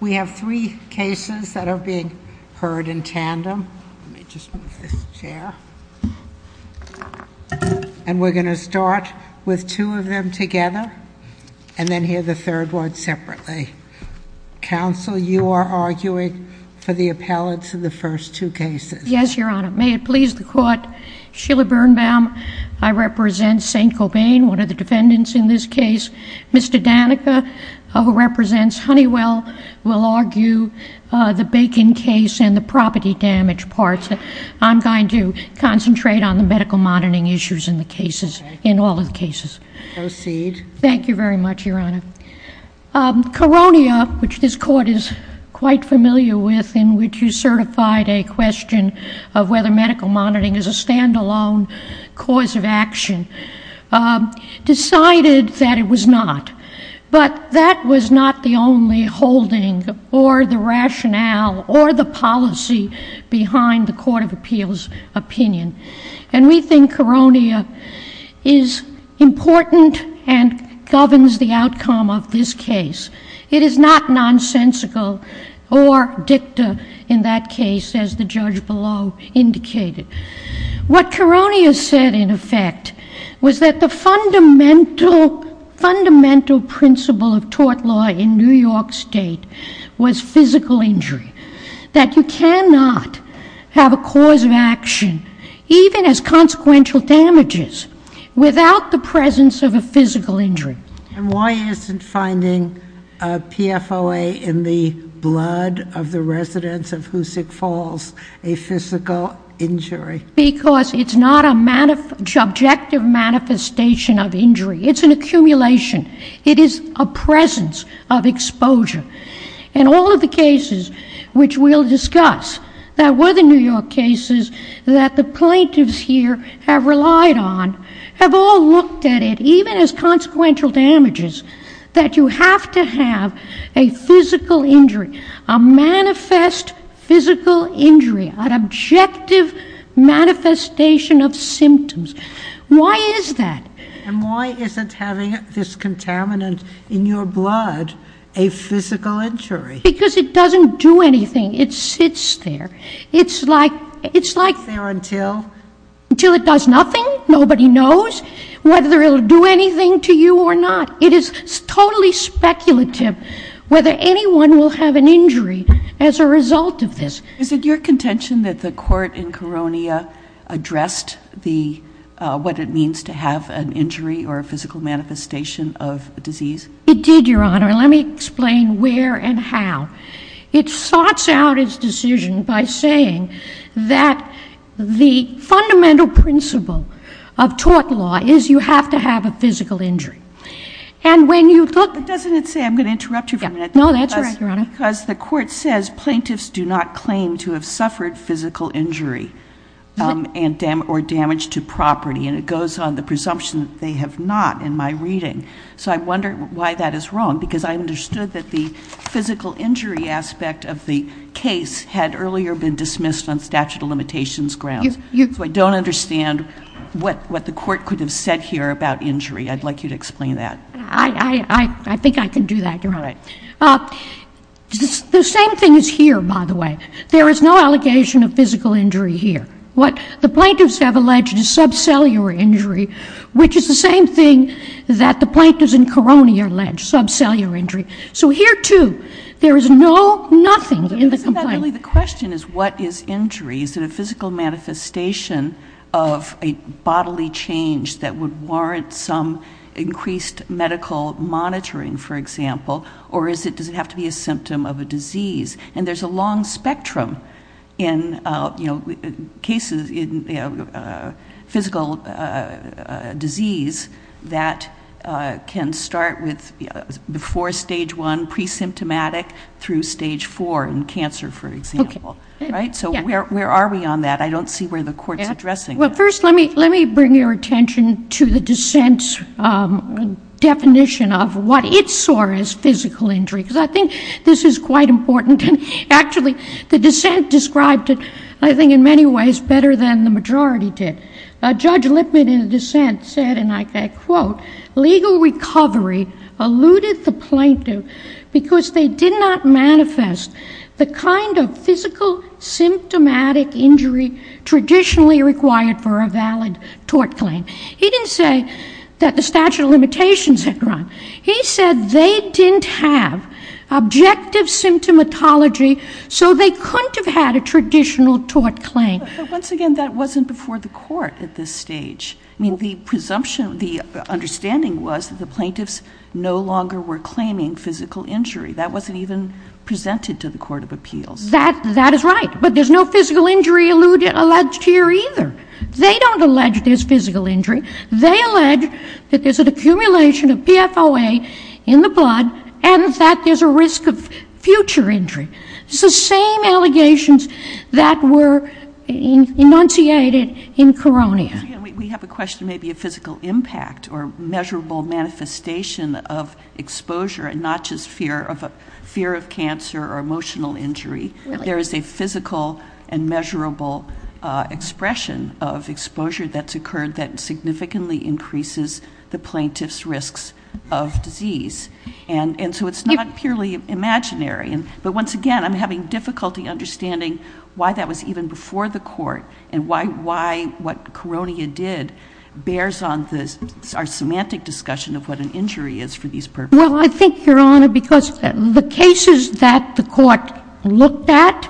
We have three cases that are being heard in tandem. Let me just move this chair. And we're going to start with two of them together, and then hear the third one separately. Counsel, you are arguing for the appellants in the first two cases. Yes, Your Honor. May it please the Court, Sheila Birnbaum, I represent Saint-Gobain, one of the defendants in this case. Mr. Danica, who represents Honeywell, will argue the Bacon case and the property damage parts. I'm going to concentrate on the medical monitoring issues in all of the cases. Proceed. Thank you very much, Your Honor. Koronia, which this Court is quite familiar with, in which you certified a question of whether medical monitoring is a stand-alone cause of action, decided that it was not. But that was not the only holding or the rationale or the policy behind the Court of Appeals' opinion. And we think Koronia is important and governs the outcome of this case. It is not nonsensical or dicta in that case, as the judge below indicated. What Koronia said, in effect, was that the fundamental principle of tort law in New York State was physical injury, that you cannot have a cause of action, even as consequential damages, without the presence of a physical injury. And why isn't finding a PFOA in the blood of the residents of Hoosick Falls a physical injury? Because it's not an objective manifestation of injury. It's an accumulation. It is a presence of exposure. And all of the cases which we'll discuss, that were the New York cases that the plaintiffs here have relied on, have all looked at it, even as consequential damages, that you have to have a physical injury, a manifest physical injury, an objective manifestation of symptoms. Why is that? And why isn't having this contaminant in your blood a physical injury? Because it doesn't do anything. It sits there. It's like... It sits there until? Until it does nothing. Nobody knows whether it will do anything to you or not. It is totally speculative whether anyone will have an injury as a result of this. Is it your contention that the court in Koronia addressed what it means to have an injury or a physical manifestation of a disease? It did, Your Honor. Let me explain where and how. It sorts out its decision by saying that the fundamental principle of tort law is you have to have a physical injury. And when you look... But doesn't it say... I'm going to interrupt you for a minute. No, that's all right, Your Honor. Because the court says plaintiffs do not claim to have suffered physical injury or damage to property. And it goes on the presumption that they have not in my reading. So I wonder why that is wrong. Because I understood that the physical injury aspect of the case had earlier been dismissed on statute of limitations grounds. So I don't understand what the court could have said here about injury. I'd like you to explain that. I think I can do that, Your Honor. The same thing is here, by the way. There is no allegation of physical injury here. What the plaintiffs have alleged is subcellular injury, which is the same thing that the plaintiffs in Caroni allege, subcellular injury. So here, too, there is nothing in the complaint. But isn't that really the question, is what is injury? Is it a physical manifestation of a bodily change that would warrant some increased medical monitoring, for example? And there's a long spectrum in cases, in physical disease, that can start with before stage 1, pre-symptomatic, through stage 4 in cancer, for example. Okay. Right? So where are we on that? I don't see where the court's addressing that. Well, first, let me bring your attention to the dissent's definition of what it saw as physical injury. Because I think this is quite important. And actually, the dissent described it, I think in many ways, better than the majority did. Judge Lipman in the dissent said, and I quote, legal recovery alluded the plaintiff because they did not manifest the kind of physical symptomatic injury traditionally required for a valid tort claim. He said they didn't have objective symptomatology, so they couldn't have had a traditional tort claim. But once again, that wasn't before the court at this stage. I mean, the presumption, the understanding was that the plaintiffs no longer were claiming physical injury. That wasn't even presented to the court of appeals. That is right. But there's no physical injury alleged here either. They don't allege there's physical injury. They allege that there's an accumulation of PFOA in the blood and that there's a risk of future injury. It's the same allegations that were enunciated in Koronia. We have a question maybe of physical impact or measurable manifestation of exposure and not just fear of cancer or emotional injury. There is a physical and measurable expression of exposure that's occurred that significantly increases the plaintiff's risks of disease. And so it's not purely imaginary. But once again, I'm having difficulty understanding why that was even before the court and why what Koronia did bears on our semantic discussion of what an injury is for these purposes. Well, I think, Your Honor, because the cases that the court looked at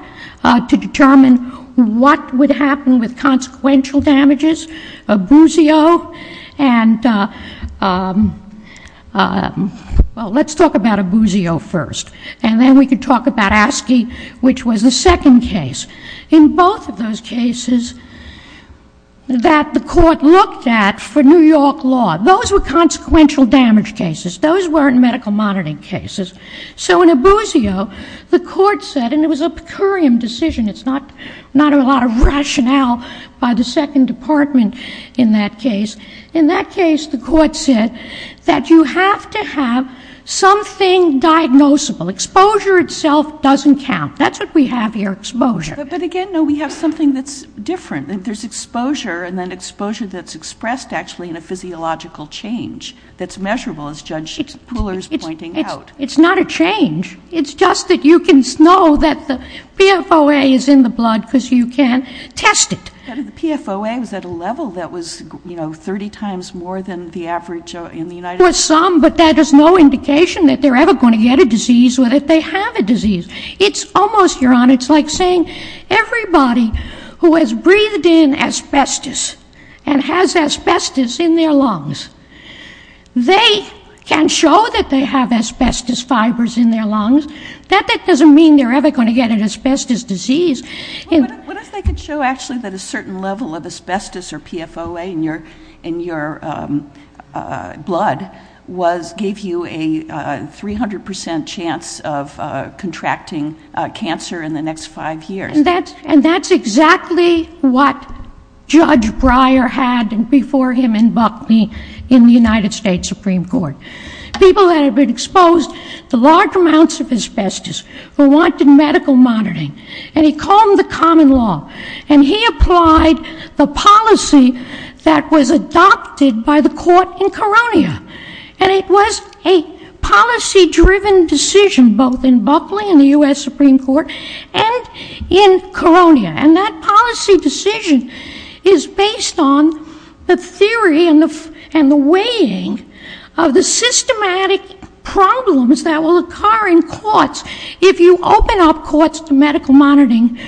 to determine what would happen with consequential damages, Abusio and, well, let's talk about Abusio first. And then we could talk about Askey, which was the second case. In both of those cases that the court looked at for New York law, those were consequential damage cases. Those weren't medical monitoring cases. So in Abusio, the court said, and it was a per curiam decision. It's not a lot of rationale by the Second Department in that case. In that case, the court said that you have to have something diagnosable. Exposure itself doesn't count. That's what we have here, exposure. But again, no, we have something that's different. There's exposure and then exposure that's expressed actually in a physiological change that's measurable, as Judge Pooler is pointing out. It's not a change. It's just that you can know that the PFOA is in the blood because you can test it. But the PFOA was at a level that was, you know, 30 times more than the average in the United States. It was some, but that is no indication that they're ever going to get a disease or that they have a disease. It's almost, Your Honor, it's like saying everybody who has breathed in asbestos and has asbestos in their lungs, they can show that they have asbestos fibers in their lungs. That doesn't mean they're ever going to get an asbestos disease. What if they could show actually that a certain level of asbestos or PFOA in your blood gave you a 300 percent chance of contracting cancer in the next five years? And that's exactly what Judge Breyer had before him in Buckley in the United States Supreme Court. People that had been exposed to large amounts of asbestos were wanted in medical monitoring. And he called them the common law. And he applied the policy that was adopted by the court in Koronia. And it was a policy-driven decision both in Buckley in the U.S. Supreme Court and in Koronia. And that policy decision is based on the theory and the weighing of the systematic problems that will occur in courts if you open up courts to medical monitoring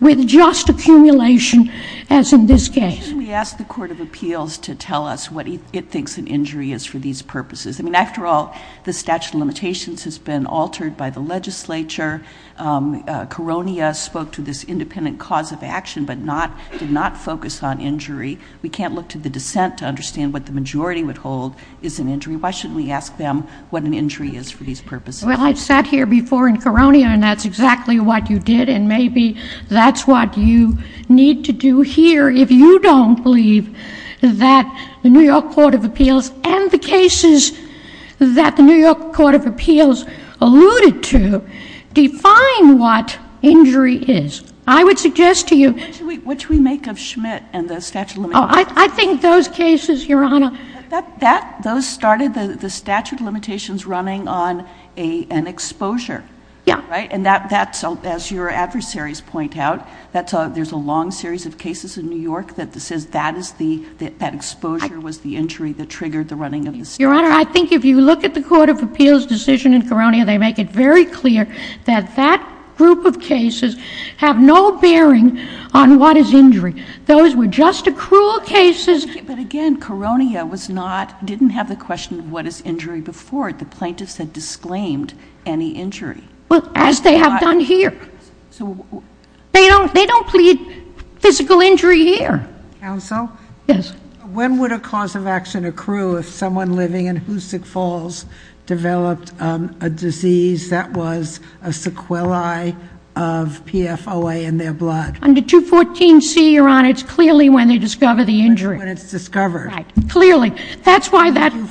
with just accumulation as in this case. Why shouldn't we ask the Court of Appeals to tell us what it thinks an injury is for these purposes? I mean, after all, the statute of limitations has been altered by the legislature. Koronia spoke to this independent cause of action but did not focus on injury. We can't look to the dissent to understand what the majority would hold is an injury. Why shouldn't we ask them what an injury is for these purposes? Well, I've sat here before in Koronia, and that's exactly what you did. And maybe that's what you need to do here if you don't believe that the New York Court of Appeals and the cases that the New York Court of Appeals alluded to define what injury is. I would suggest to you ---- What should we make of Schmidt and the statute of limitations? I think those cases, Your Honor ---- Those started the statute of limitations running on an exposure, right? Yeah. And that's, as your adversaries point out, there's a long series of cases in New York that says that exposure was the injury that triggered the running of the statute. Your Honor, I think if you look at the Court of Appeals' decision in Koronia, they make it very clear that that group of cases have no bearing on what is injury. Those were just accrual cases. But again, Koronia didn't have the question of what is injury before. The plaintiffs had disclaimed any injury. Well, as they have done here. They don't plead physical injury here. Counsel? Yes. When would a cause of action accrue if someone living in Hoosick Falls developed a disease that was a sequelae of PFOA in their blood? Under 214C, Your Honor, it's clearly when they discover the injury. When it's discovered. Right. Clearly. That's why that ----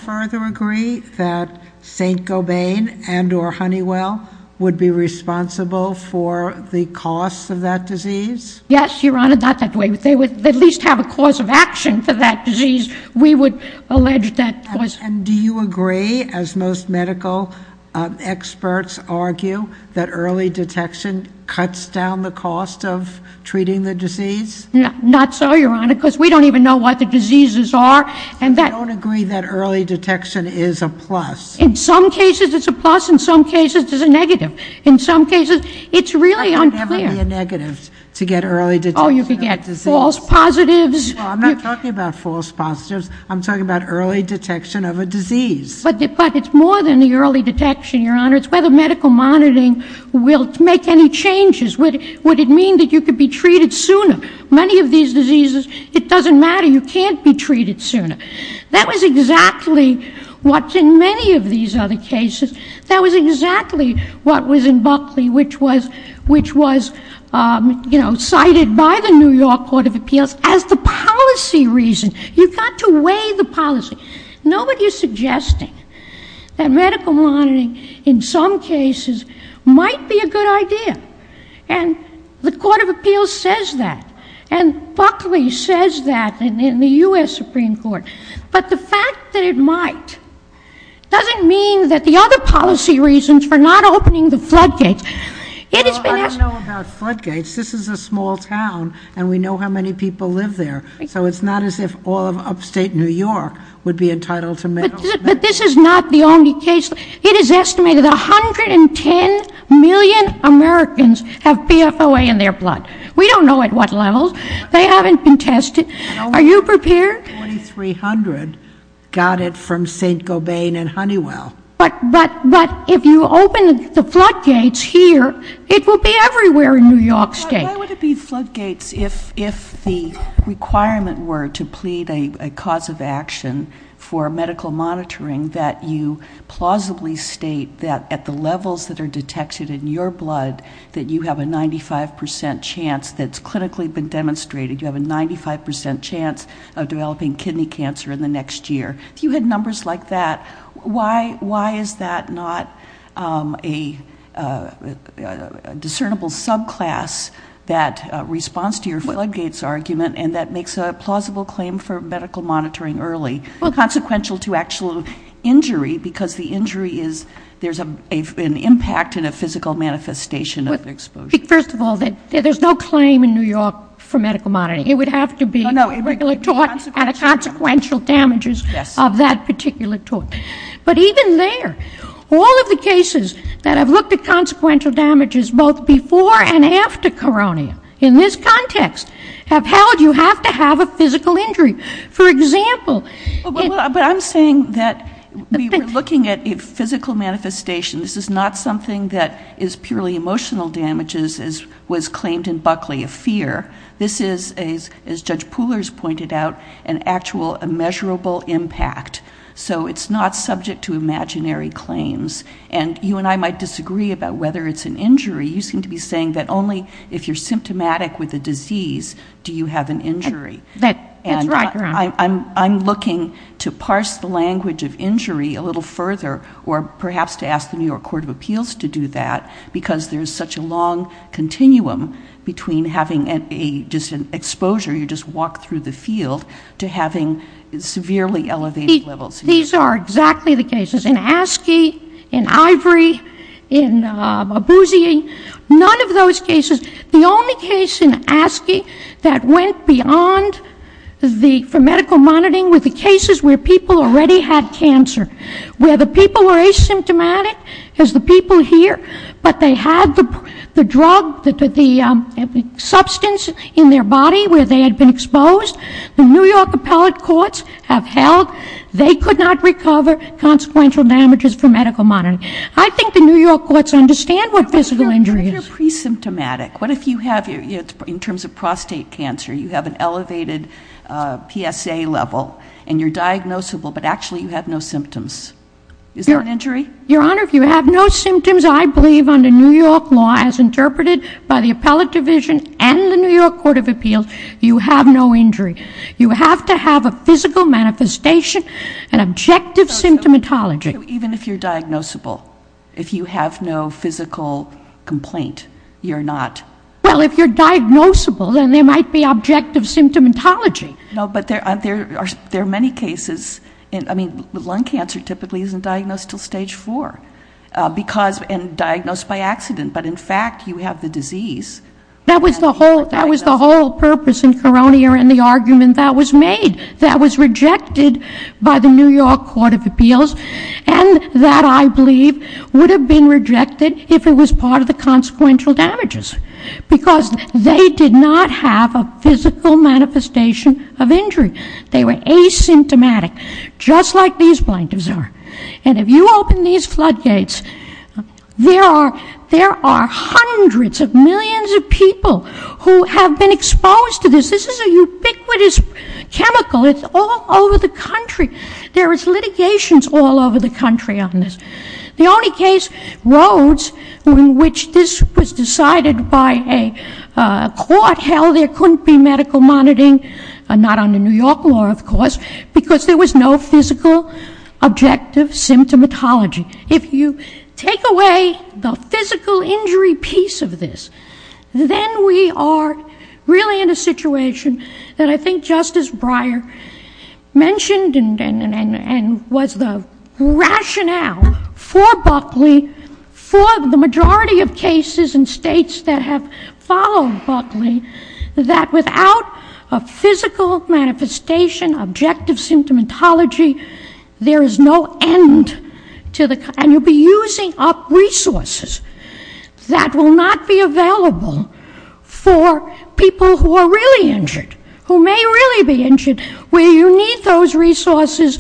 and or Honeywell would be responsible for the cost of that disease? Yes, Your Honor, not that way. They would at least have a cause of action for that disease. We would allege that was ---- And do you agree, as most medical experts argue, that early detection cuts down the cost of treating the disease? Not so, Your Honor, because we don't even know what the diseases are. And that ---- I don't agree that early detection is a plus. In some cases, it's a plus. In some cases, it's a negative. In some cases, it's really unclear. It would never be a negative to get early detection of a disease. Oh, you could get false positives. I'm not talking about false positives. I'm talking about early detection of a disease. But it's more than the early detection, Your Honor. It's whether medical monitoring will make any changes. Would it mean that you could be treated sooner? Many of these diseases, it doesn't matter. You can't be treated sooner. That was exactly what, in many of these other cases, that was exactly what was in Buckley, which was cited by the New York Court of Appeals as the policy reason. You've got to weigh the policy. Nobody is suggesting that medical monitoring, in some cases, might be a good idea. And the Court of Appeals says that. And Buckley says that in the U.S. Supreme Court. But the fact that it might doesn't mean that the other policy reasons for not opening the floodgates. Well, I don't know about floodgates. This is a small town, and we know how many people live there. So it's not as if all of upstate New York would be entitled to medical monitoring. But this is not the only case. It is estimated that 110 million Americans have PFOA in their blood. We don't know at what level. They haven't been tested. Are you prepared? 4,300 got it from St. Gobain and Honeywell. But if you open the floodgates here, it will be everywhere in New York State. Why would it be floodgates if the requirement were to plead a cause of action for medical monitoring that you plausibly state that at the levels that are detected in your blood, that you have a 95% chance that's clinically been demonstrated, you have a 95% chance of developing kidney cancer in the next year? If you had numbers like that, why is that not a discernible subclass that responds to your floodgates argument and that makes a plausible claim for medical monitoring early? Consequential to actual injury because the injury is there's an impact in a physical manifestation of exposure. First of all, there's no claim in New York for medical monitoring. It would have to be a regular tort and a consequential damages of that particular tort. But even there, all of the cases that have looked at consequential damages both before and after coronia, in this context, have held you have to have a physical injury. For example... But I'm saying that we were looking at a physical manifestation. This is not something that is purely emotional damages as was claimed in Buckley of fear. This is, as Judge Pooler has pointed out, an actual immeasurable impact. So it's not subject to imaginary claims. And you and I might disagree about whether it's an injury. You seem to be saying that only if you're symptomatic with a disease do you have an injury. That's right, Your Honor. And I'm looking to parse the language of injury a little further or perhaps to ask the New York Court of Appeals to do that because there's such a long continuum between having just an exposure, you just walk through the field, to having severely elevated levels. These are exactly the cases. In ASCII, in Ivory, in Abuzie, none of those cases. The only case in ASCII that went beyond for medical monitoring were the cases where people already had cancer, where the people were asymptomatic as the people here, but they had the drug, the substance in their body where they had been exposed. The New York appellate courts have held they could not recover consequential damages for medical monitoring. I think the New York courts understand what physical injury is. What if you're pre-symptomatic? What if you have, in terms of prostate cancer, you have an elevated PSA level and you're diagnosable but actually you have no symptoms? Is that an injury? Your Honor, if you have no symptoms, I believe under New York law as interpreted by the appellate division and the New York Court of Appeals, you have no injury. You have to have a physical manifestation and objective symptomatology. Even if you're diagnosable, if you have no physical complaint, you're not? Well, if you're diagnosable, then there might be objective symptomatology. No, but there are many cases. I mean, lung cancer typically isn't diagnosed until stage four and diagnosed by accident, but in fact you have the disease. That was the whole purpose in Koronia and the argument that was made. That was rejected by the New York Court of Appeals and that I believe would have been rejected if it was part of the consequential damages because they did not have a physical manifestation of injury. They were asymptomatic, just like these plaintiffs are. And if you open these floodgates, there are hundreds of millions of people who have been exposed to this. This is a ubiquitous chemical. It's all over the country. There is litigations all over the country on this. The only case, Rhodes, in which this was decided by a court held there couldn't be medical monitoring, not under New York law, of course, because there was no physical objective symptomatology. If you take away the physical injury piece of this, then we are really in a situation that I think Justice Breyer mentioned and was the rationale for Buckley, for the majority of cases in states that have followed Buckley, that without a physical manifestation, objective symptomatology, there is no end to the kind. And you'll be using up resources that will not be available for people who are really injured, who may really be injured, where you need those resources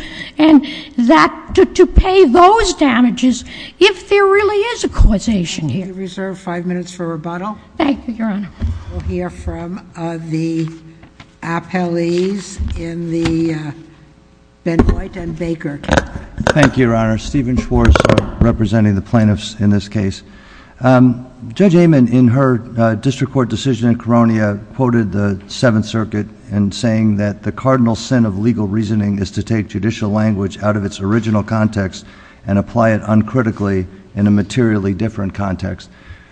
to pay those damages if there really is a causation here. We reserve five minutes for rebuttal. Thank you, Your Honor. We'll hear from the appellees in the Benoit and Baker cases. Thank you, Your Honor. Stephen Schwartz representing the plaintiffs in this case. Judge Amon, in her district court decision in Koronia, quoted the Seventh Circuit in saying that the cardinal sin of legal reasoning is to take judicial language out of its original context and apply it uncritically in a materially different context.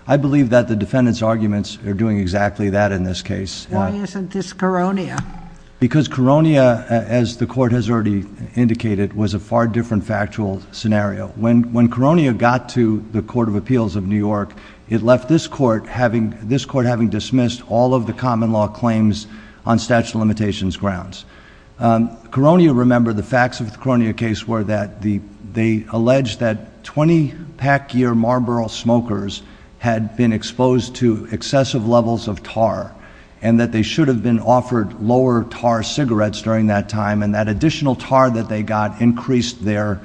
I believe that the defendant's arguments are doing exactly that in this case. Why isn't this Koronia? Because Koronia, as the court has already indicated, was a far different factual scenario. When Koronia got to the Court of Appeals of New York, it left this court having dismissed all of the common law claims on statute of limitations grounds. Koronia, remember, the facts of the Koronia case were that they alleged that 20-pack-year Marlboro smokers had been exposed to excessive levels of tar and that they should have been offered lower-tar cigarettes during that time and that additional tar that they got increased their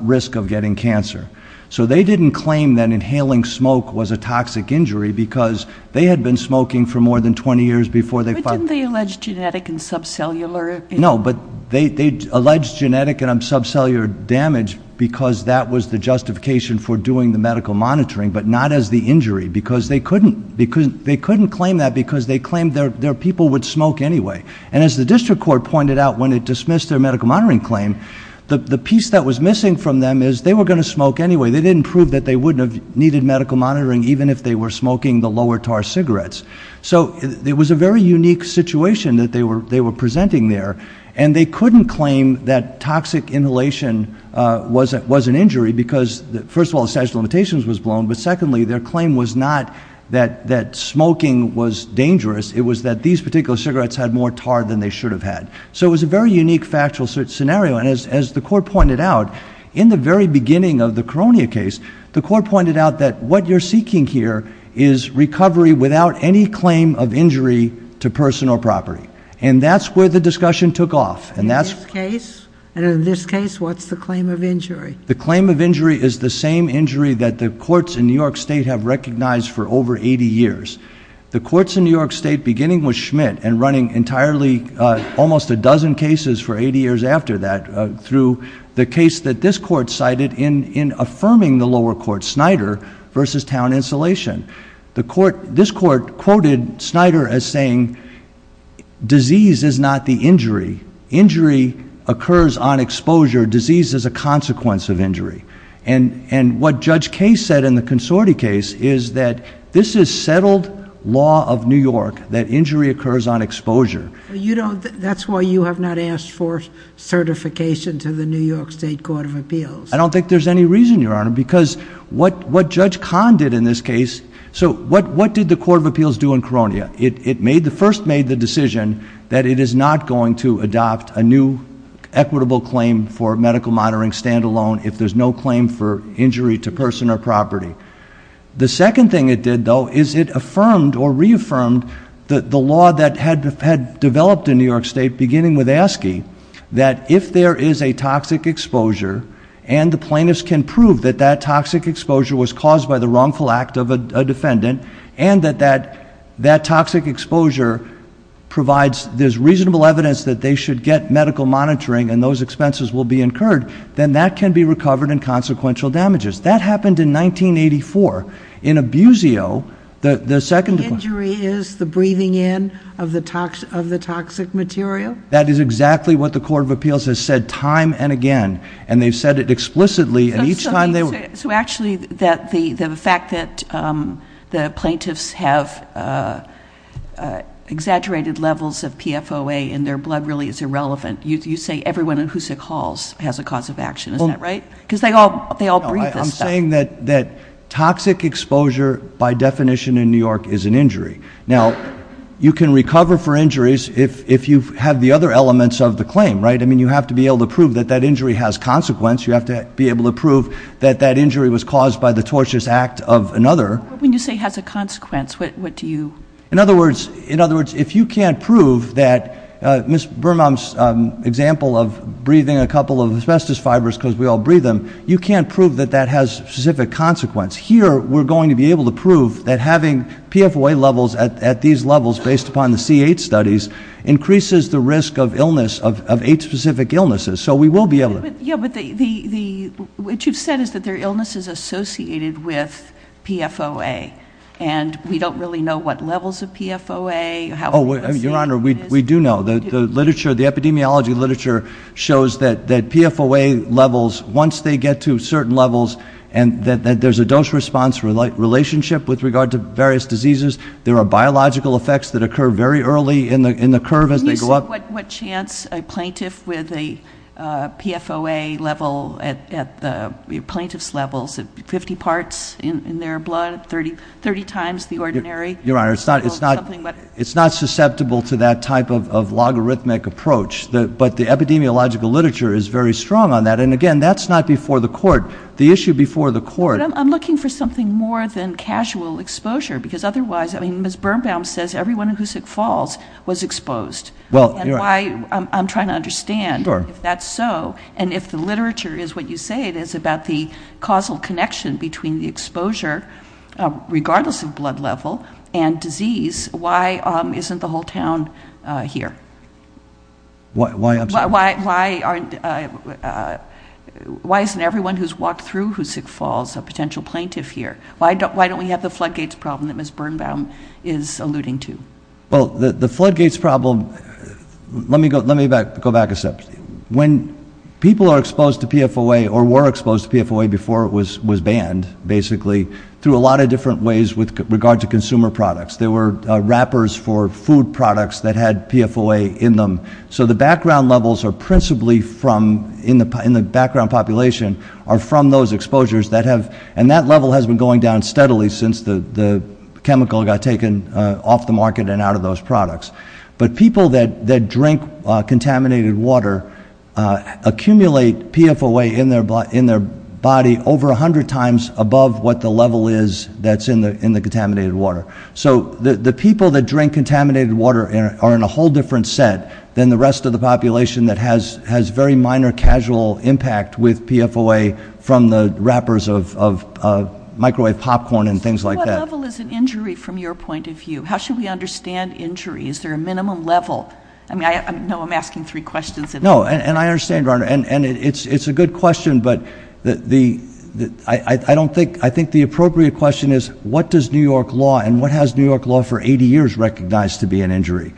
risk of getting cancer. So they didn't claim that inhaling smoke was a toxic injury because they had been smoking for more than 20 years before they found... But didn't they allege genetic and subcellular... No, but they alleged genetic and subcellular damage because that was the justification for doing the medical monitoring, but not as the injury because they couldn't claim that because they claimed their people would smoke anyway. And as the district court pointed out when it dismissed their medical monitoring claim, the piece that was missing from them is they were going to smoke anyway. They didn't prove that they wouldn't have needed medical monitoring even if they were smoking the lower-tar cigarettes. So it was a very unique situation that they were presenting there, and they couldn't claim that toxic inhalation was an injury because, first of all, the statute of limitations was blown, but secondly, their claim was not that smoking was dangerous. It was that these particular cigarettes had more tar than they should have had. So it was a very unique factual scenario. And as the court pointed out, in the very beginning of the Koronia case, the court pointed out that what you're seeking here is recovery without any claim of injury to person or property. And that's where the discussion took off. And in this case, what's the claim of injury? The claim of injury is the same injury that the courts in New York State have recognized for over 80 years. The courts in New York State, beginning with Schmidt and running entirely almost a dozen cases for 80 years after that through the case that this court cited in affirming the lower court, Snyder v. Town Insulation, this court quoted Snyder as saying, disease is not the injury. Injury occurs on exposure. Disease is a consequence of injury. And what Judge Case said in the Consorti case is that this is settled law of New York, that injury occurs on exposure. That's why you have not asked for certification to the New York State Court of Appeals. I don't think there's any reason, Your Honor, because what Judge Kahn did in this case, so what did the Court of Appeals do in Koronia? It first made the decision that it is not going to adopt a new equitable claim for medical monitoring stand-alone if there's no claim for injury to person or property. The second thing it did, though, is it affirmed or reaffirmed the law that had developed in New York State, beginning with Askey, that if there is a toxic exposure and the plaintiffs can prove that that toxic exposure was caused by the wrongful act of a defendant and that that toxic exposure provides reasonable evidence that they should get medical monitoring and those expenses will be incurred, then that can be recovered in consequential damages. That happened in 1984. In Abusio, the second... The injury is the breathing in of the toxic material? That is exactly what the Court of Appeals has said time and again, and they've said it explicitly, and each time they... So actually, the fact that the plaintiffs have exaggerated levels of PFOA in their blood really is irrelevant. You say everyone in Hoosick Halls has a cause of action, is that right? Because they all breathe this stuff. I'm saying that toxic exposure, by definition in New York, is an injury. Now, you can recover for injuries if you have the other elements of the claim, right? I mean, you have to be able to prove that that injury has consequence. You have to be able to prove that that injury was caused by the tortious act of another. But when you say has a consequence, what do you... In other words, if you can't prove that Ms. Birnbaum's example of breathing a couple of asbestos fibers because we all breathe them, you can't prove that that has specific consequence. Here, we're going to be able to prove that having PFOA levels at these levels, based upon the C-8 studies, increases the risk of illness, of AIDS-specific illnesses. So we will be able to... Yeah, but what you've said is that there are illnesses associated with PFOA, and we don't really know what levels of PFOA... Oh, Your Honor, we do know. The epidemiology literature shows that PFOA levels, once they get to certain levels, and that there's a dose-response relationship with regard to various diseases, there are biological effects that occur very early in the curve as they go up. Can you say what chance a plaintiff with a PFOA level at the plaintiff's level... 50 parts in their blood, 30 times the ordinary... Your Honor, it's not susceptible to that type of logarithmic approach, but the epidemiological literature is very strong on that. And, again, that's not before the court. The issue before the court... But I'm looking for something more than casual exposure, because otherwise, I mean, Ms. Birnbaum says everyone who's sick falls was exposed. Well, Your Honor... And I'm trying to understand if that's so, and if the literature is what you say it is about the causal connection between the exposure, regardless of blood level, and disease, why isn't the whole town here? Why aren't... Why isn't everyone who's walked through who's sick falls a potential plaintiff here? Why don't we have the floodgates problem that Ms. Birnbaum is alluding to? Well, the floodgates problem... Let me go back a step. When people are exposed to PFOA or were exposed to PFOA before it was banned, basically, through a lot of different ways with regard to consumer products. There were wrappers for food products that had PFOA in them. So the background levels are principally from, in the background population, are from those exposures that have... And that level has been going down steadily since the chemical got taken off the market and out of those products. But people that drink contaminated water accumulate PFOA in their body over 100 times above what the level is that's in the contaminated water. So the people that drink contaminated water are in a whole different set than the rest of the population that has very minor casual impact with PFOA from the wrappers of microwave popcorn and things like that. So what level is an injury from your point of view? How should we understand injury? Is there a minimum level? I know I'm asking three questions. No, and I understand, Your Honor, and it's a good question, but I think the appropriate question is what does New York law and what has New York law for 80 years recognized to be an injury?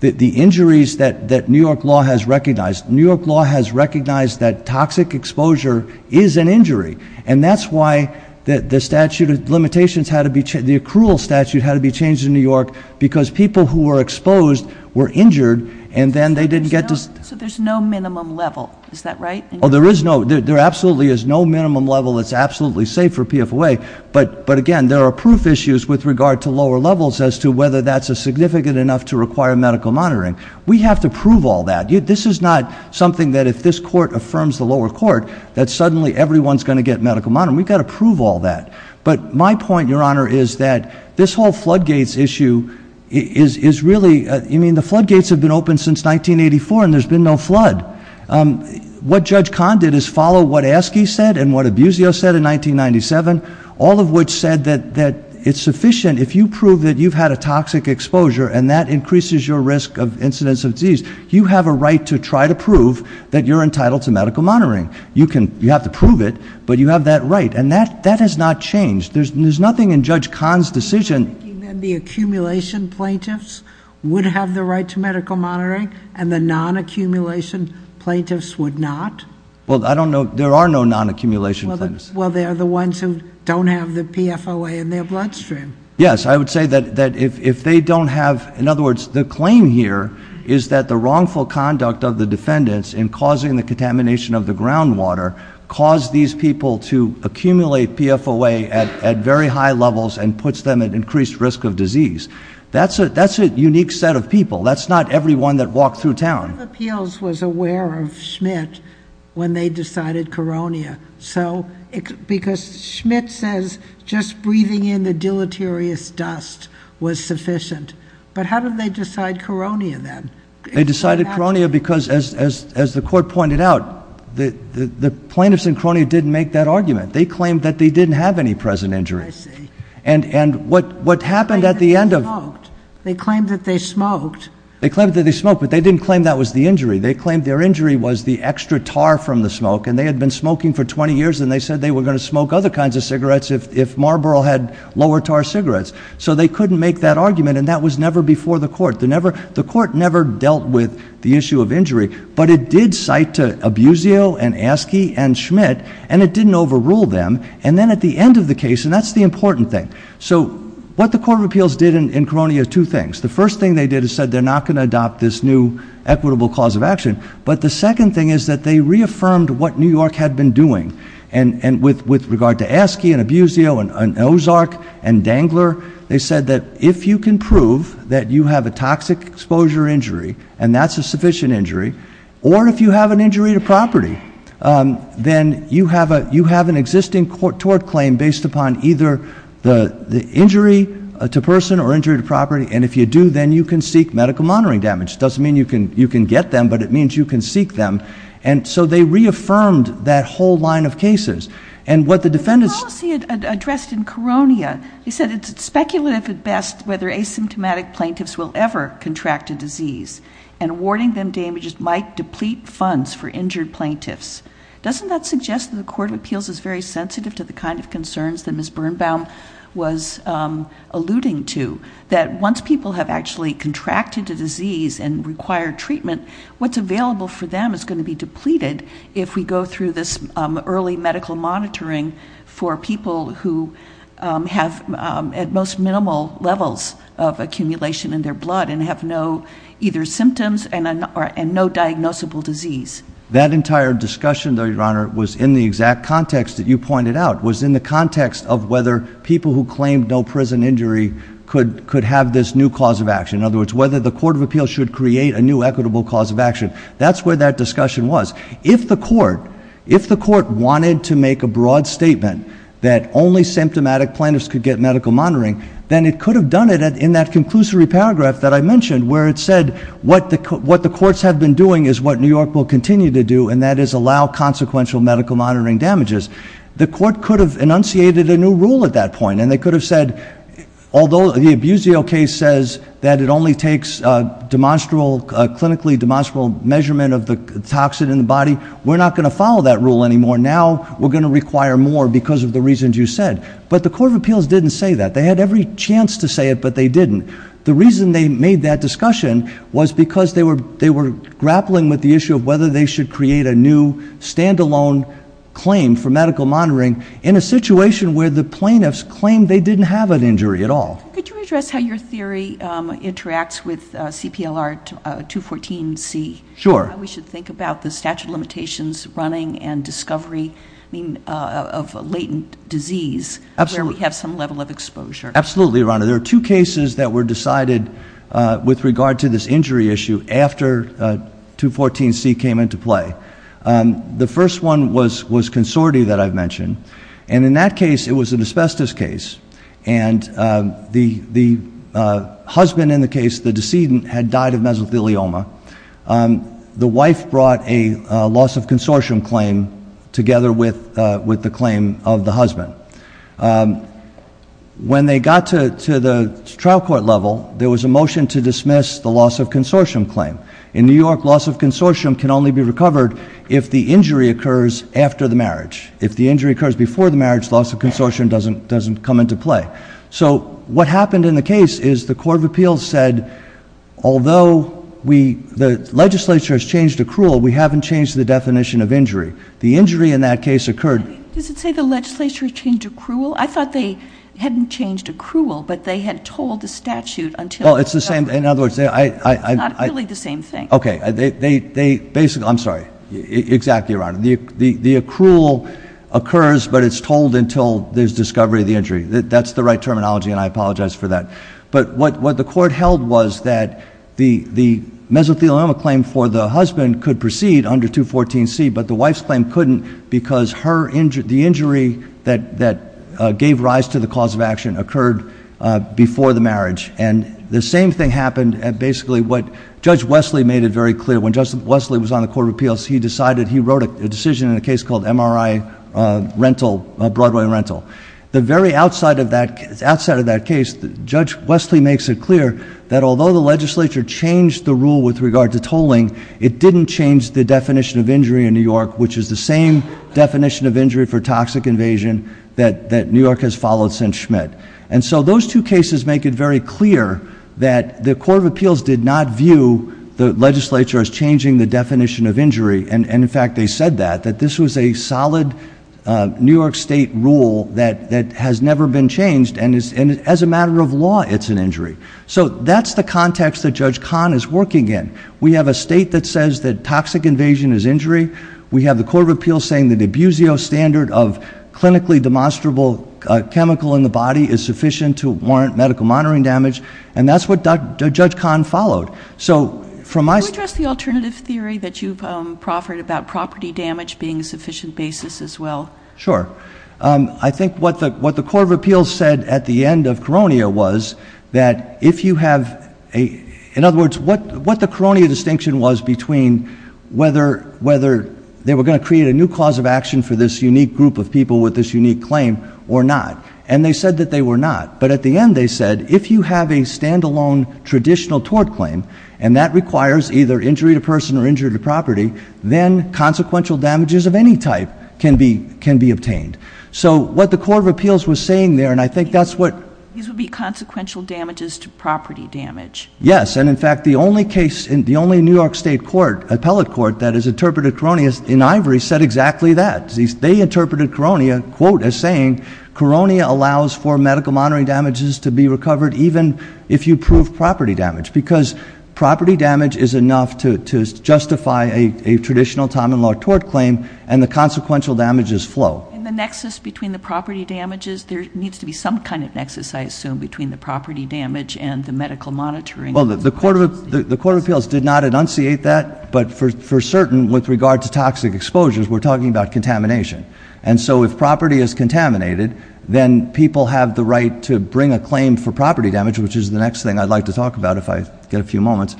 The injuries that New York law has recognized, New York law has recognized that toxic exposure is an injury. And that's why the statute of limitations had to be changed, the accrual statute had to be changed in New York because people who were exposed were injured and then they didn't get to... So there's no minimum level. Is that right? There absolutely is no minimum level that's absolutely safe for PFOA, but, again, there are proof issues with regard to lower levels as to whether that's significant enough to require medical monitoring. We have to prove all that. This is not something that if this court affirms the lower court that suddenly everyone's going to get medical monitoring. We've got to prove all that. But my point, Your Honor, is that this whole floodgates issue is really... I mean, the floodgates have been open since 1984 and there's been no flood. What Judge Kahn did is follow what Askey said and what Abusio said in 1997, all of which said that it's sufficient if you prove that you've had a toxic exposure and that increases your risk of incidence of disease, you have a right to try to prove that you're entitled to medical monitoring. You have to prove it, but you have that right. And that has not changed. There's nothing in Judge Kahn's decision...... the accumulation plaintiffs would have the right to medical monitoring and the non-accumulation plaintiffs would not? Well, I don't know. There are no non-accumulation plaintiffs. Well, they are the ones who don't have the PFOA in their bloodstream. Yes. I would say that if they don't have... In other words, the claim here is that the wrongful conduct of the defendants in causing the contamination of the groundwater caused these people to accumulate PFOA at very high levels and puts them at increased risk of disease. That's a unique set of people. That's not everyone that walked through town. The Court of Appeals was aware of Schmidt when they decided Koronia. Because Schmidt says just breathing in the deleterious dust was sufficient. But how did they decide Koronia then? They decided Koronia because, as the Court pointed out, the plaintiffs in Koronia didn't make that argument. They claimed that they didn't have any present injuries. I see. And what happened at the end of... They claimed that they smoked. They claimed that they smoked, but they didn't claim that was the injury. They claimed their injury was the extra tar from the smoke, and they had been smoking for 20 years, and they said they were going to smoke other kinds of cigarettes if Marlborough had lower-tar cigarettes. So they couldn't make that argument, and that was never before the Court. The Court never dealt with the issue of injury, but it did cite Abusio and Askey and Schmidt, and it didn't overrule them. And then at the end of the case, and that's the important thing. So what the Court of Appeals did in Koronia are two things. The first thing they did is said they're not going to adopt this new equitable cause of action. But the second thing is that they reaffirmed what New York had been doing. And with regard to Askey and Abusio and Ozark and Dangler, they said that if you can prove that you have a toxic exposure injury, and that's a sufficient injury, or if you have an injury to property, then you have an existing tort claim based upon either the injury to person or injury to property, and if you do, then you can seek medical monitoring damage. It doesn't mean you can get them, but it means you can seek them. And so they reaffirmed that whole line of cases. And what the defendants— The policy addressed in Koronia, they said it's speculative at best whether asymptomatic plaintiffs will ever contract a disease, and awarding them damages might deplete funds for injured plaintiffs. Doesn't that suggest that the Court of Appeals is very sensitive to the kind of concerns that Ms. Birnbaum was alluding to, that once people have actually contracted a disease and require treatment, what's available for them is going to be depleted if we go through this early medical monitoring for people who have at most minimal levels of accumulation in their blood and have no either symptoms and no diagnosable disease? That entire discussion, Your Honor, was in the exact context that you pointed out, was in the context of whether people who claimed no prison injury could have this new cause of action. In other words, whether the Court of Appeals should create a new equitable cause of action. That's where that discussion was. If the Court wanted to make a broad statement that only symptomatic plaintiffs could get medical monitoring, then it could have done it in that conclusory paragraph that I mentioned, where it said what the courts have been doing is what New York will continue to do, and that is allow consequential medical monitoring damages. The court could have enunciated a new rule at that point, and they could have said, although the Abusio case says that it only takes a clinically demonstrable measurement of the toxin in the body, we're not going to follow that rule anymore. Now we're going to require more because of the reasons you said. But the Court of Appeals didn't say that. They had every chance to say it, but they didn't. The reason they made that discussion was because they were grappling with the issue of whether they should create a new stand-alone claim for medical monitoring in a situation where the plaintiffs claimed they didn't have an injury at all. Could you address how your theory interacts with CPLR 214C? Sure. Why we should think about the statute of limitations running and discovery of latent disease where we have some level of exposure. Absolutely, Your Honor. There are two cases that were decided with regard to this injury issue after 214C came into play. The first one was consortium that I've mentioned, and in that case it was an asbestos case, and the husband in the case, the decedent, had died of mesothelioma. The wife brought a loss-of-consortium claim together with the claim of the husband. When they got to the trial court level, there was a motion to dismiss the loss-of-consortium claim. In New York, loss-of-consortium can only be recovered if the injury occurs after the marriage. If the injury occurs before the marriage, loss-of-consortium doesn't come into play. So what happened in the case is the court of appeals said, although the legislature has changed accrual, we haven't changed the definition of injury. The injury in that case occurred. Does it say the legislature changed accrual? I thought they hadn't changed accrual, but they had told the statute until it was done. Well, it's the same. In other words, I— It's not really the same thing. Okay. They basically—I'm sorry. Exactly, Your Honor. The accrual occurs, but it's told until there's discovery of the injury. That's the right terminology, and I apologize for that. But what the court held was that the mesothelioma claim for the husband could proceed under 214C, but the wife's claim couldn't because the injury that gave rise to the cause of action occurred before the marriage. And the same thing happened at basically what Judge Wesley made it very clear. When Justice Wesley was on the court of appeals, he decided—he wrote a decision in a case called MRI rental, Broadway rental. The very outside of that case, Judge Wesley makes it clear that although the legislature changed the rule with regard to tolling, it didn't change the definition of injury in New York, which is the same definition of injury for toxic invasion that New York has followed since Schmidt. And so those two cases make it very clear that the court of appeals did not view the legislature as changing the definition of injury. And, in fact, they said that, that this was a solid New York State rule that has never been changed. And as a matter of law, it's an injury. So that's the context that Judge Kahn is working in. We have a state that says that toxic invasion is injury. We have the court of appeals saying that the D'Abusio standard of clinically demonstrable chemical in the body is sufficient to warrant medical monitoring damage. And that's what Judge Kahn followed. Can you address the alternative theory that you've proffered about property damage being a sufficient basis as well? Sure. I think what the court of appeals said at the end of Koronia was that if you have— in other words, what the Koronia distinction was between whether they were going to create a new cause of action for this unique group of people with this unique claim or not. And they said that they were not. But at the end, they said, if you have a stand-alone traditional tort claim, and that requires either injury to person or injury to property, then consequential damages of any type can be obtained. So what the court of appeals was saying there, and I think that's what— These would be consequential damages to property damage. Yes. And, in fact, the only case, the only New York State court, appellate court, that has interpreted Koronia in ivory said exactly that. They interpreted Koronia, quote, as saying, Koronia allows for medical monitoring damages to be recovered even if you prove property damage. Because property damage is enough to justify a traditional time and law tort claim, and the consequential damages flow. And the nexus between the property damages, there needs to be some kind of nexus, I assume, between the property damage and the medical monitoring. Well, the court of appeals did not enunciate that. But for certain, with regard to toxic exposures, we're talking about contamination. And so if property is contaminated, then people have the right to bring a claim for property damage, which is the next thing I'd like to talk about if I get a few moments.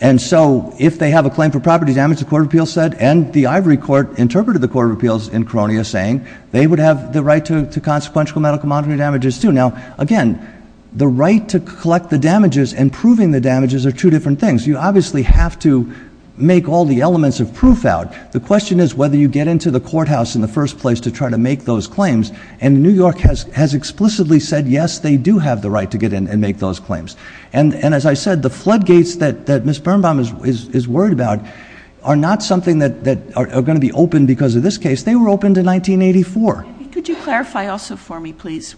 And so if they have a claim for property damage, the court of appeals said, and the ivory court interpreted the court of appeals in Koronia saying, they would have the right to consequential medical monitoring damages too. Now, again, the right to collect the damages and proving the damages are two different things. You obviously have to make all the elements of proof out. The question is whether you get into the courthouse in the first place to try to make those claims. And New York has explicitly said, yes, they do have the right to get in and make those claims. And as I said, the floodgates that Ms. Birnbaum is worried about are not something that are going to be open because of this case. They were open to 1984. Could you clarify also for me, please?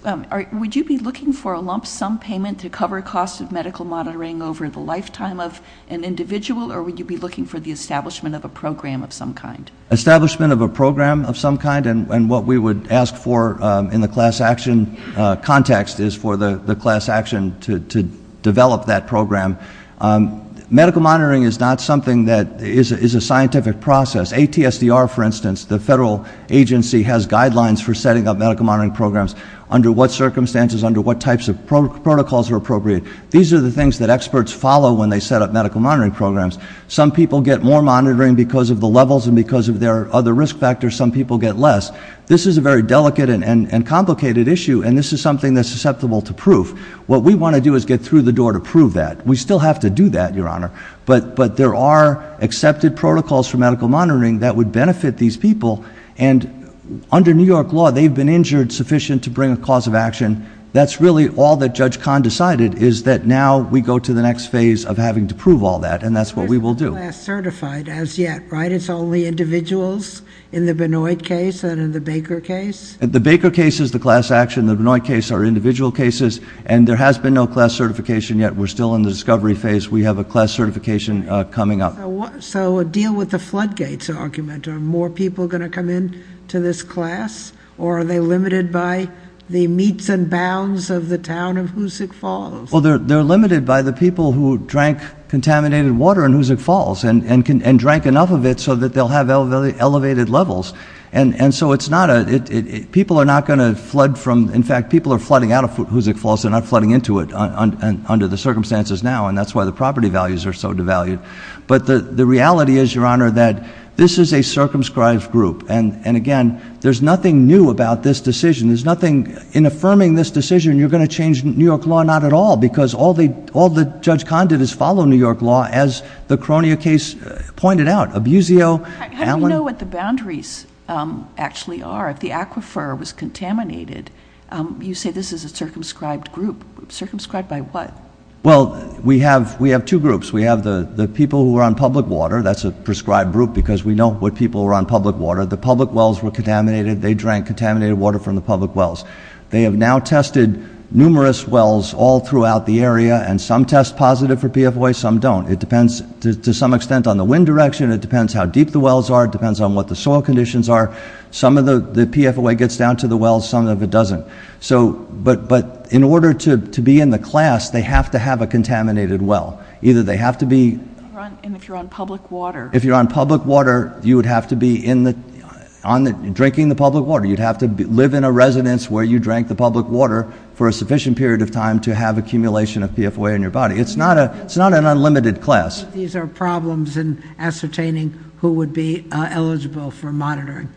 Would you be looking for a lump sum payment to cover costs of medical monitoring over the lifetime of an individual, or would you be looking for the establishment of a program of some kind? Establishment of a program of some kind, and what we would ask for in the class action context is for the class action to develop that program. Medical monitoring is not something that is a scientific process. ATSDR, for instance, the federal agency has guidelines for setting up medical monitoring programs under what circumstances, under what types of protocols are appropriate. These are the things that experts follow when they set up medical monitoring programs. Some people get more monitoring because of the levels and because of their other risk factors. Some people get less. This is a very delicate and complicated issue, and this is something that's susceptible to proof. What we want to do is get through the door to prove that. We still have to do that, Your Honor, but there are accepted protocols for medical monitoring that would benefit these people, and under New York law, they've been injured sufficient to bring a cause of action. That's really all that Judge Kahn decided is that now we go to the next phase of having to prove all that, and that's what we will do. We're not class certified as yet, right? It's only individuals in the Benoit case and in the Baker case? The Baker case is the class action. The Benoit case are individual cases, and there has been no class certification yet. We're still in the discovery phase. We have a class certification coming up. So deal with the floodgates argument. Are more people going to come in to this class, or are they limited by the meets and bounds of the town of Hoosick Falls? Well, they're limited by the people who drank contaminated water in Hoosick Falls and drank enough of it so that they'll have elevated levels, and so it's not a – people are not going to flood from – and that's why the property values are so devalued. But the reality is, Your Honor, that this is a circumscribed group. And again, there's nothing new about this decision. There's nothing – in affirming this decision, you're going to change New York law not at all because all that Judge Kahn did is follow New York law as the Cronia case pointed out. Abusio, Allen – How do you know what the boundaries actually are? If the aquifer was contaminated, you say this is a circumscribed group. Circumscribed by what? Well, we have two groups. We have the people who are on public water. That's a prescribed group because we know what people are on public water. The public wells were contaminated. They drank contaminated water from the public wells. They have now tested numerous wells all throughout the area, and some test positive for PFOA, some don't. It depends to some extent on the wind direction. It depends how deep the wells are. It depends on what the soil conditions are. Some of the PFOA gets down to the wells, some of it doesn't. But in order to be in the class, they have to have a contaminated well. Either they have to be – And if you're on public water? If you're on public water, you would have to be drinking the public water. You'd have to live in a residence where you drank the public water for a sufficient period of time to have accumulation of PFOA in your body. It's not an unlimited class. These are problems in ascertaining who would be eligible for monitoring.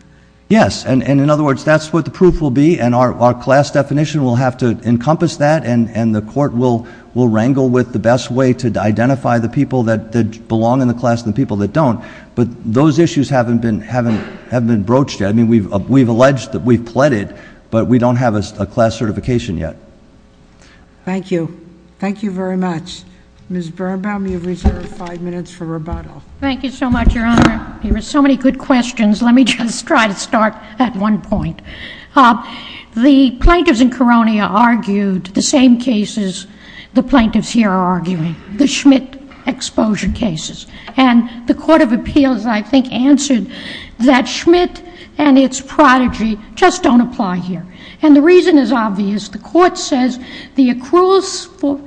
Yes, and in other words, that's what the proof will be, and our class definition will have to encompass that, and the court will wrangle with the best way to identify the people that belong in the class and the people that don't. But those issues haven't been broached yet. I mean, we've alleged that we've pleaded, but we don't have a class certification yet. Thank you. Thank you very much. Ms. Birnbaum, you have reserved five minutes for rebuttal. Thank you so much, Your Honor. There were so many good questions. Let me just try to start at one point. The plaintiffs in Koronia argued the same cases the plaintiffs here are arguing, the Schmidt exposure cases. And the Court of Appeals, I think, answered that Schmidt and its prodigy just don't apply here. And the reason is obvious. The court says the accrual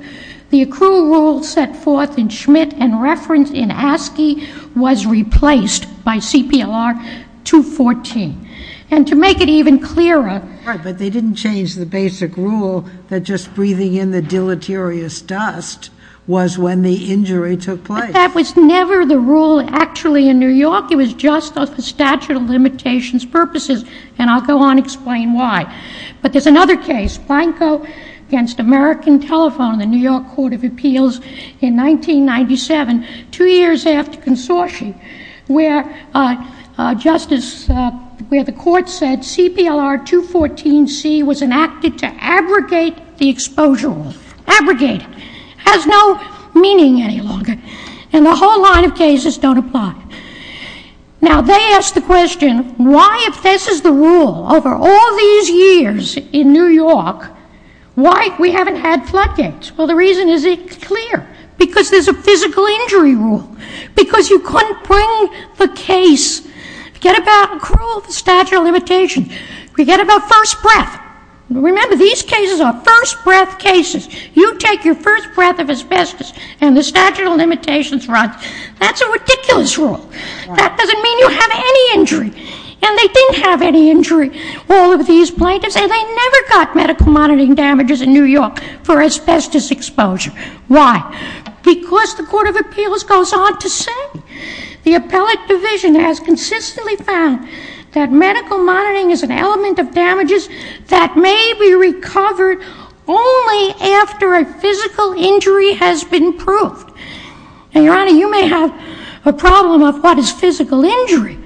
rule set forth in Schmidt and referenced in Askey was replaced by CPLR 214. And to make it even clearer — Right, but they didn't change the basic rule that just breathing in the deleterious dust was when the injury took place. But that was never the rule actually in New York. It was just the statute of limitations purposes, and I'll go on to explain why. But there's another case, Blanco v. American Telephone in the New York Court of Appeals in 1997, two years after Consortium, where the court said CPLR 214C was enacted to abrogate the exposure rule. Abrogate it. It has no meaning any longer, and the whole line of cases don't apply. Now, they ask the question, why, if this is the rule over all these years in New York, why we haven't had floodgates? Well, the reason is it's clear, because there's a physical injury rule, because you couldn't bring the case. Forget about accrual, the statute of limitations. Forget about first breath. Remember, these cases are first breath cases. You take your first breath of asbestos, and the statute of limitations runs. That's a ridiculous rule. That doesn't mean you have any injury, and they didn't have any injury, all of these plaintiffs, and they never got medical monitoring damages in New York for asbestos exposure. Why? Because the Court of Appeals goes on to say, the appellate division has consistently found that medical monitoring is an element of damages that may be recovered only after a physical injury has been proved. And, Your Honor, you may have a problem of what is physical injury,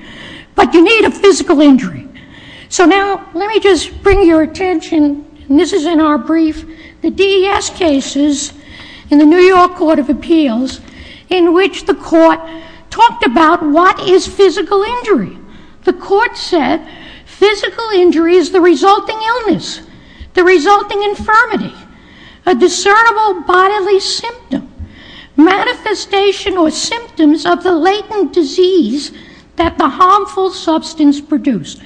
but you need a physical injury. So now let me just bring your attention, and this is in our brief, the DES cases in the New York Court of Appeals in which the Court talked about what is physical injury. The Court said physical injury is the resulting illness, the resulting infirmity, a discernible bodily symptom. Manifestation or symptoms of the latent disease that the harmful substance produced.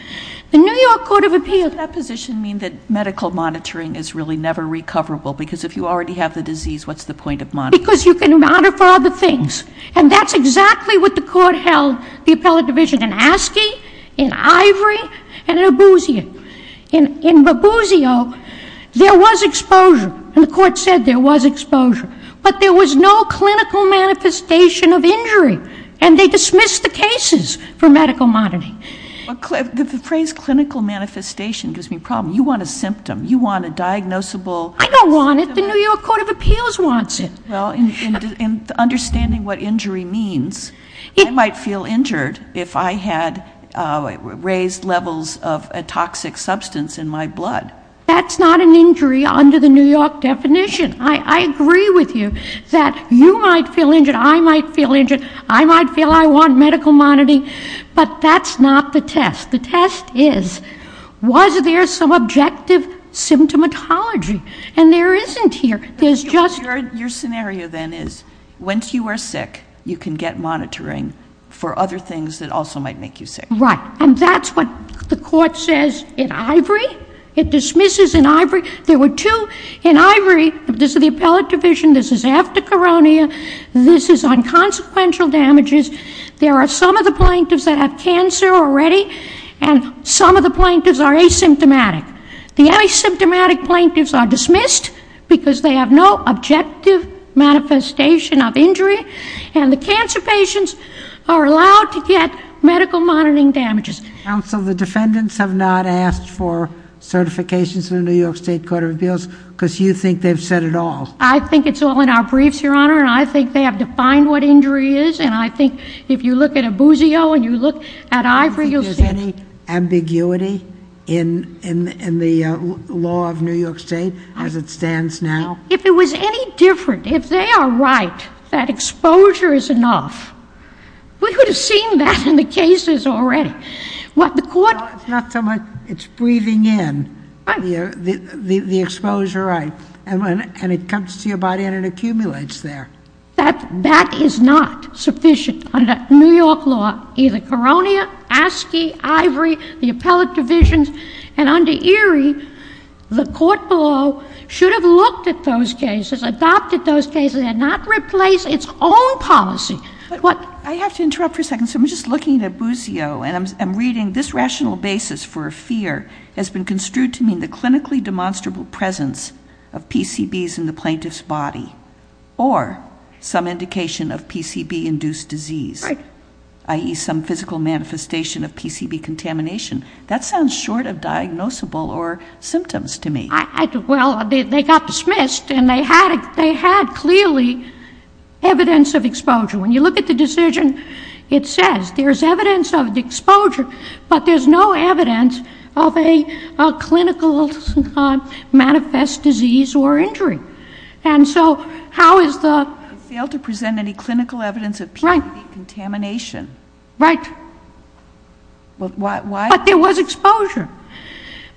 The New York Court of Appeals... Does that position mean that medical monitoring is really never recoverable? Because if you already have the disease, what's the point of monitoring? Because you can monitor for other things. And that's exactly what the Court held, the appellate division, in Askey, in Ivory, and in Mabuzio. In Mabuzio, there was exposure, and the Court said there was exposure. But there was no clinical manifestation of injury, and they dismissed the cases for medical monitoring. The phrase clinical manifestation gives me a problem. You want a symptom. You want a diagnosable... I don't want it. The New York Court of Appeals wants it. Well, in understanding what injury means, I might feel injured if I had raised levels of a toxic substance in my blood. That's not an injury under the New York definition. I agree with you that you might feel injured, I might feel injured, I might feel I want medical monitoring. But that's not the test. The test is, was there some objective symptomatology? And there isn't here. There's just... Your scenario, then, is once you are sick, you can get monitoring for other things that also might make you sick. Right. And that's what the Court says in Ivory. It dismisses in Ivory. There were two in Ivory. This is the appellate division. This is after coronia. This is on consequential damages. There are some of the plaintiffs that have cancer already, and some of the plaintiffs are asymptomatic. The asymptomatic plaintiffs are dismissed because they have no objective manifestation of injury, and the cancer patients are allowed to get medical monitoring damages. Counsel, the defendants have not asked for certifications in the New York State Court of Appeals because you think they've said it all. I think it's all in our briefs, Your Honor, and I think they have defined what injury is, and I think if you look at Abusio and you look at Ivory, you'll see it. Do you think there's any ambiguity in the law of New York State as it stands now? If it was any different, if they are right that exposure is enough, we could have seen that in the cases already. Well, it's not so much it's breathing in the exposure, right, and it comes to your body and it accumulates there. That is not sufficient under New York law. Either coronia, ASCII, Ivory, the appellate divisions, and under Erie, the court below should have looked at those cases, adopted those cases, and not replaced its own policy. I have to interrupt for a second. So I'm just looking at Abusio, and I'm reading, this rational basis for a fear has been construed to mean the clinically demonstrable presence of PCBs in the plaintiff's body or some indication of PCB-induced disease, i.e., some physical manifestation of PCB contamination. That sounds short of diagnosable or symptoms to me. Well, they got dismissed, and they had clearly evidence of exposure. When you look at the decision, it says there's evidence of exposure, but there's no evidence of a clinical manifest disease or injury. And so how is the ---- They failed to present any clinical evidence of PCB contamination. Right. But there was exposure,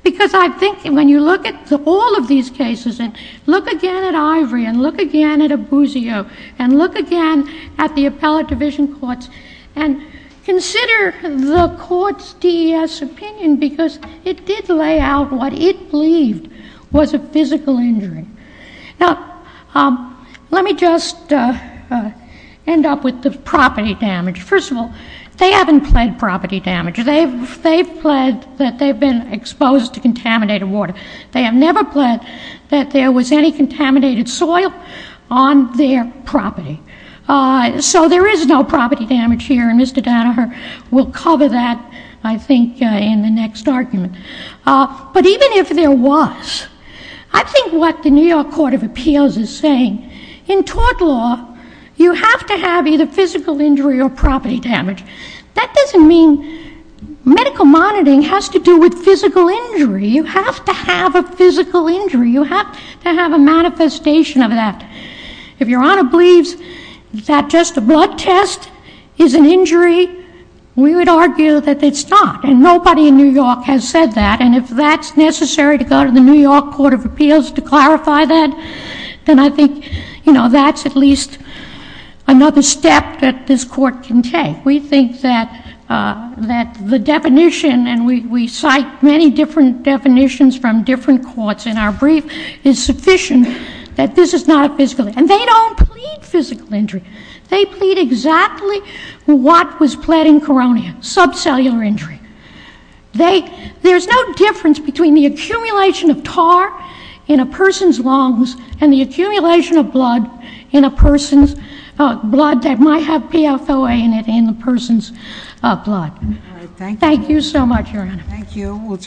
because I think when you look at all of these cases and look again at Ivory and look again at Abusio and look again at the appellate division courts and consider the court's DES opinion, because it did lay out what it believed was a physical injury. Now, let me just end up with the property damage. First of all, they haven't pled property damage. They've pled that they've been exposed to contaminated water. They have never pled that there was any contaminated soil on their property. So there is no property damage here, and Mr. Danaher will cover that, I think, in the next argument. But even if there was, I think what the New York Court of Appeals is saying, in tort law, you have to have either physical injury or property damage. That doesn't mean medical monitoring has to do with physical injury. You have to have a physical injury. You have to have a manifestation of that. If Your Honor believes that just a blood test is an injury, we would argue that it's not, and nobody in New York has said that. And if that's necessary to go to the New York Court of Appeals to clarify that, then I think that's at least another step that this Court can take. We think that the definition, and we cite many different definitions from different courts in our brief, is sufficient that this is not a physical injury. And they don't plead physical injury. They plead exactly what was pled in Koronia, subcellular injury. There's no difference between the accumulation of tar in a person's lungs and the accumulation of blood in a person's blood that might have PFOA in it in the person's blood. Thank you so much, Your Honor. Thank you.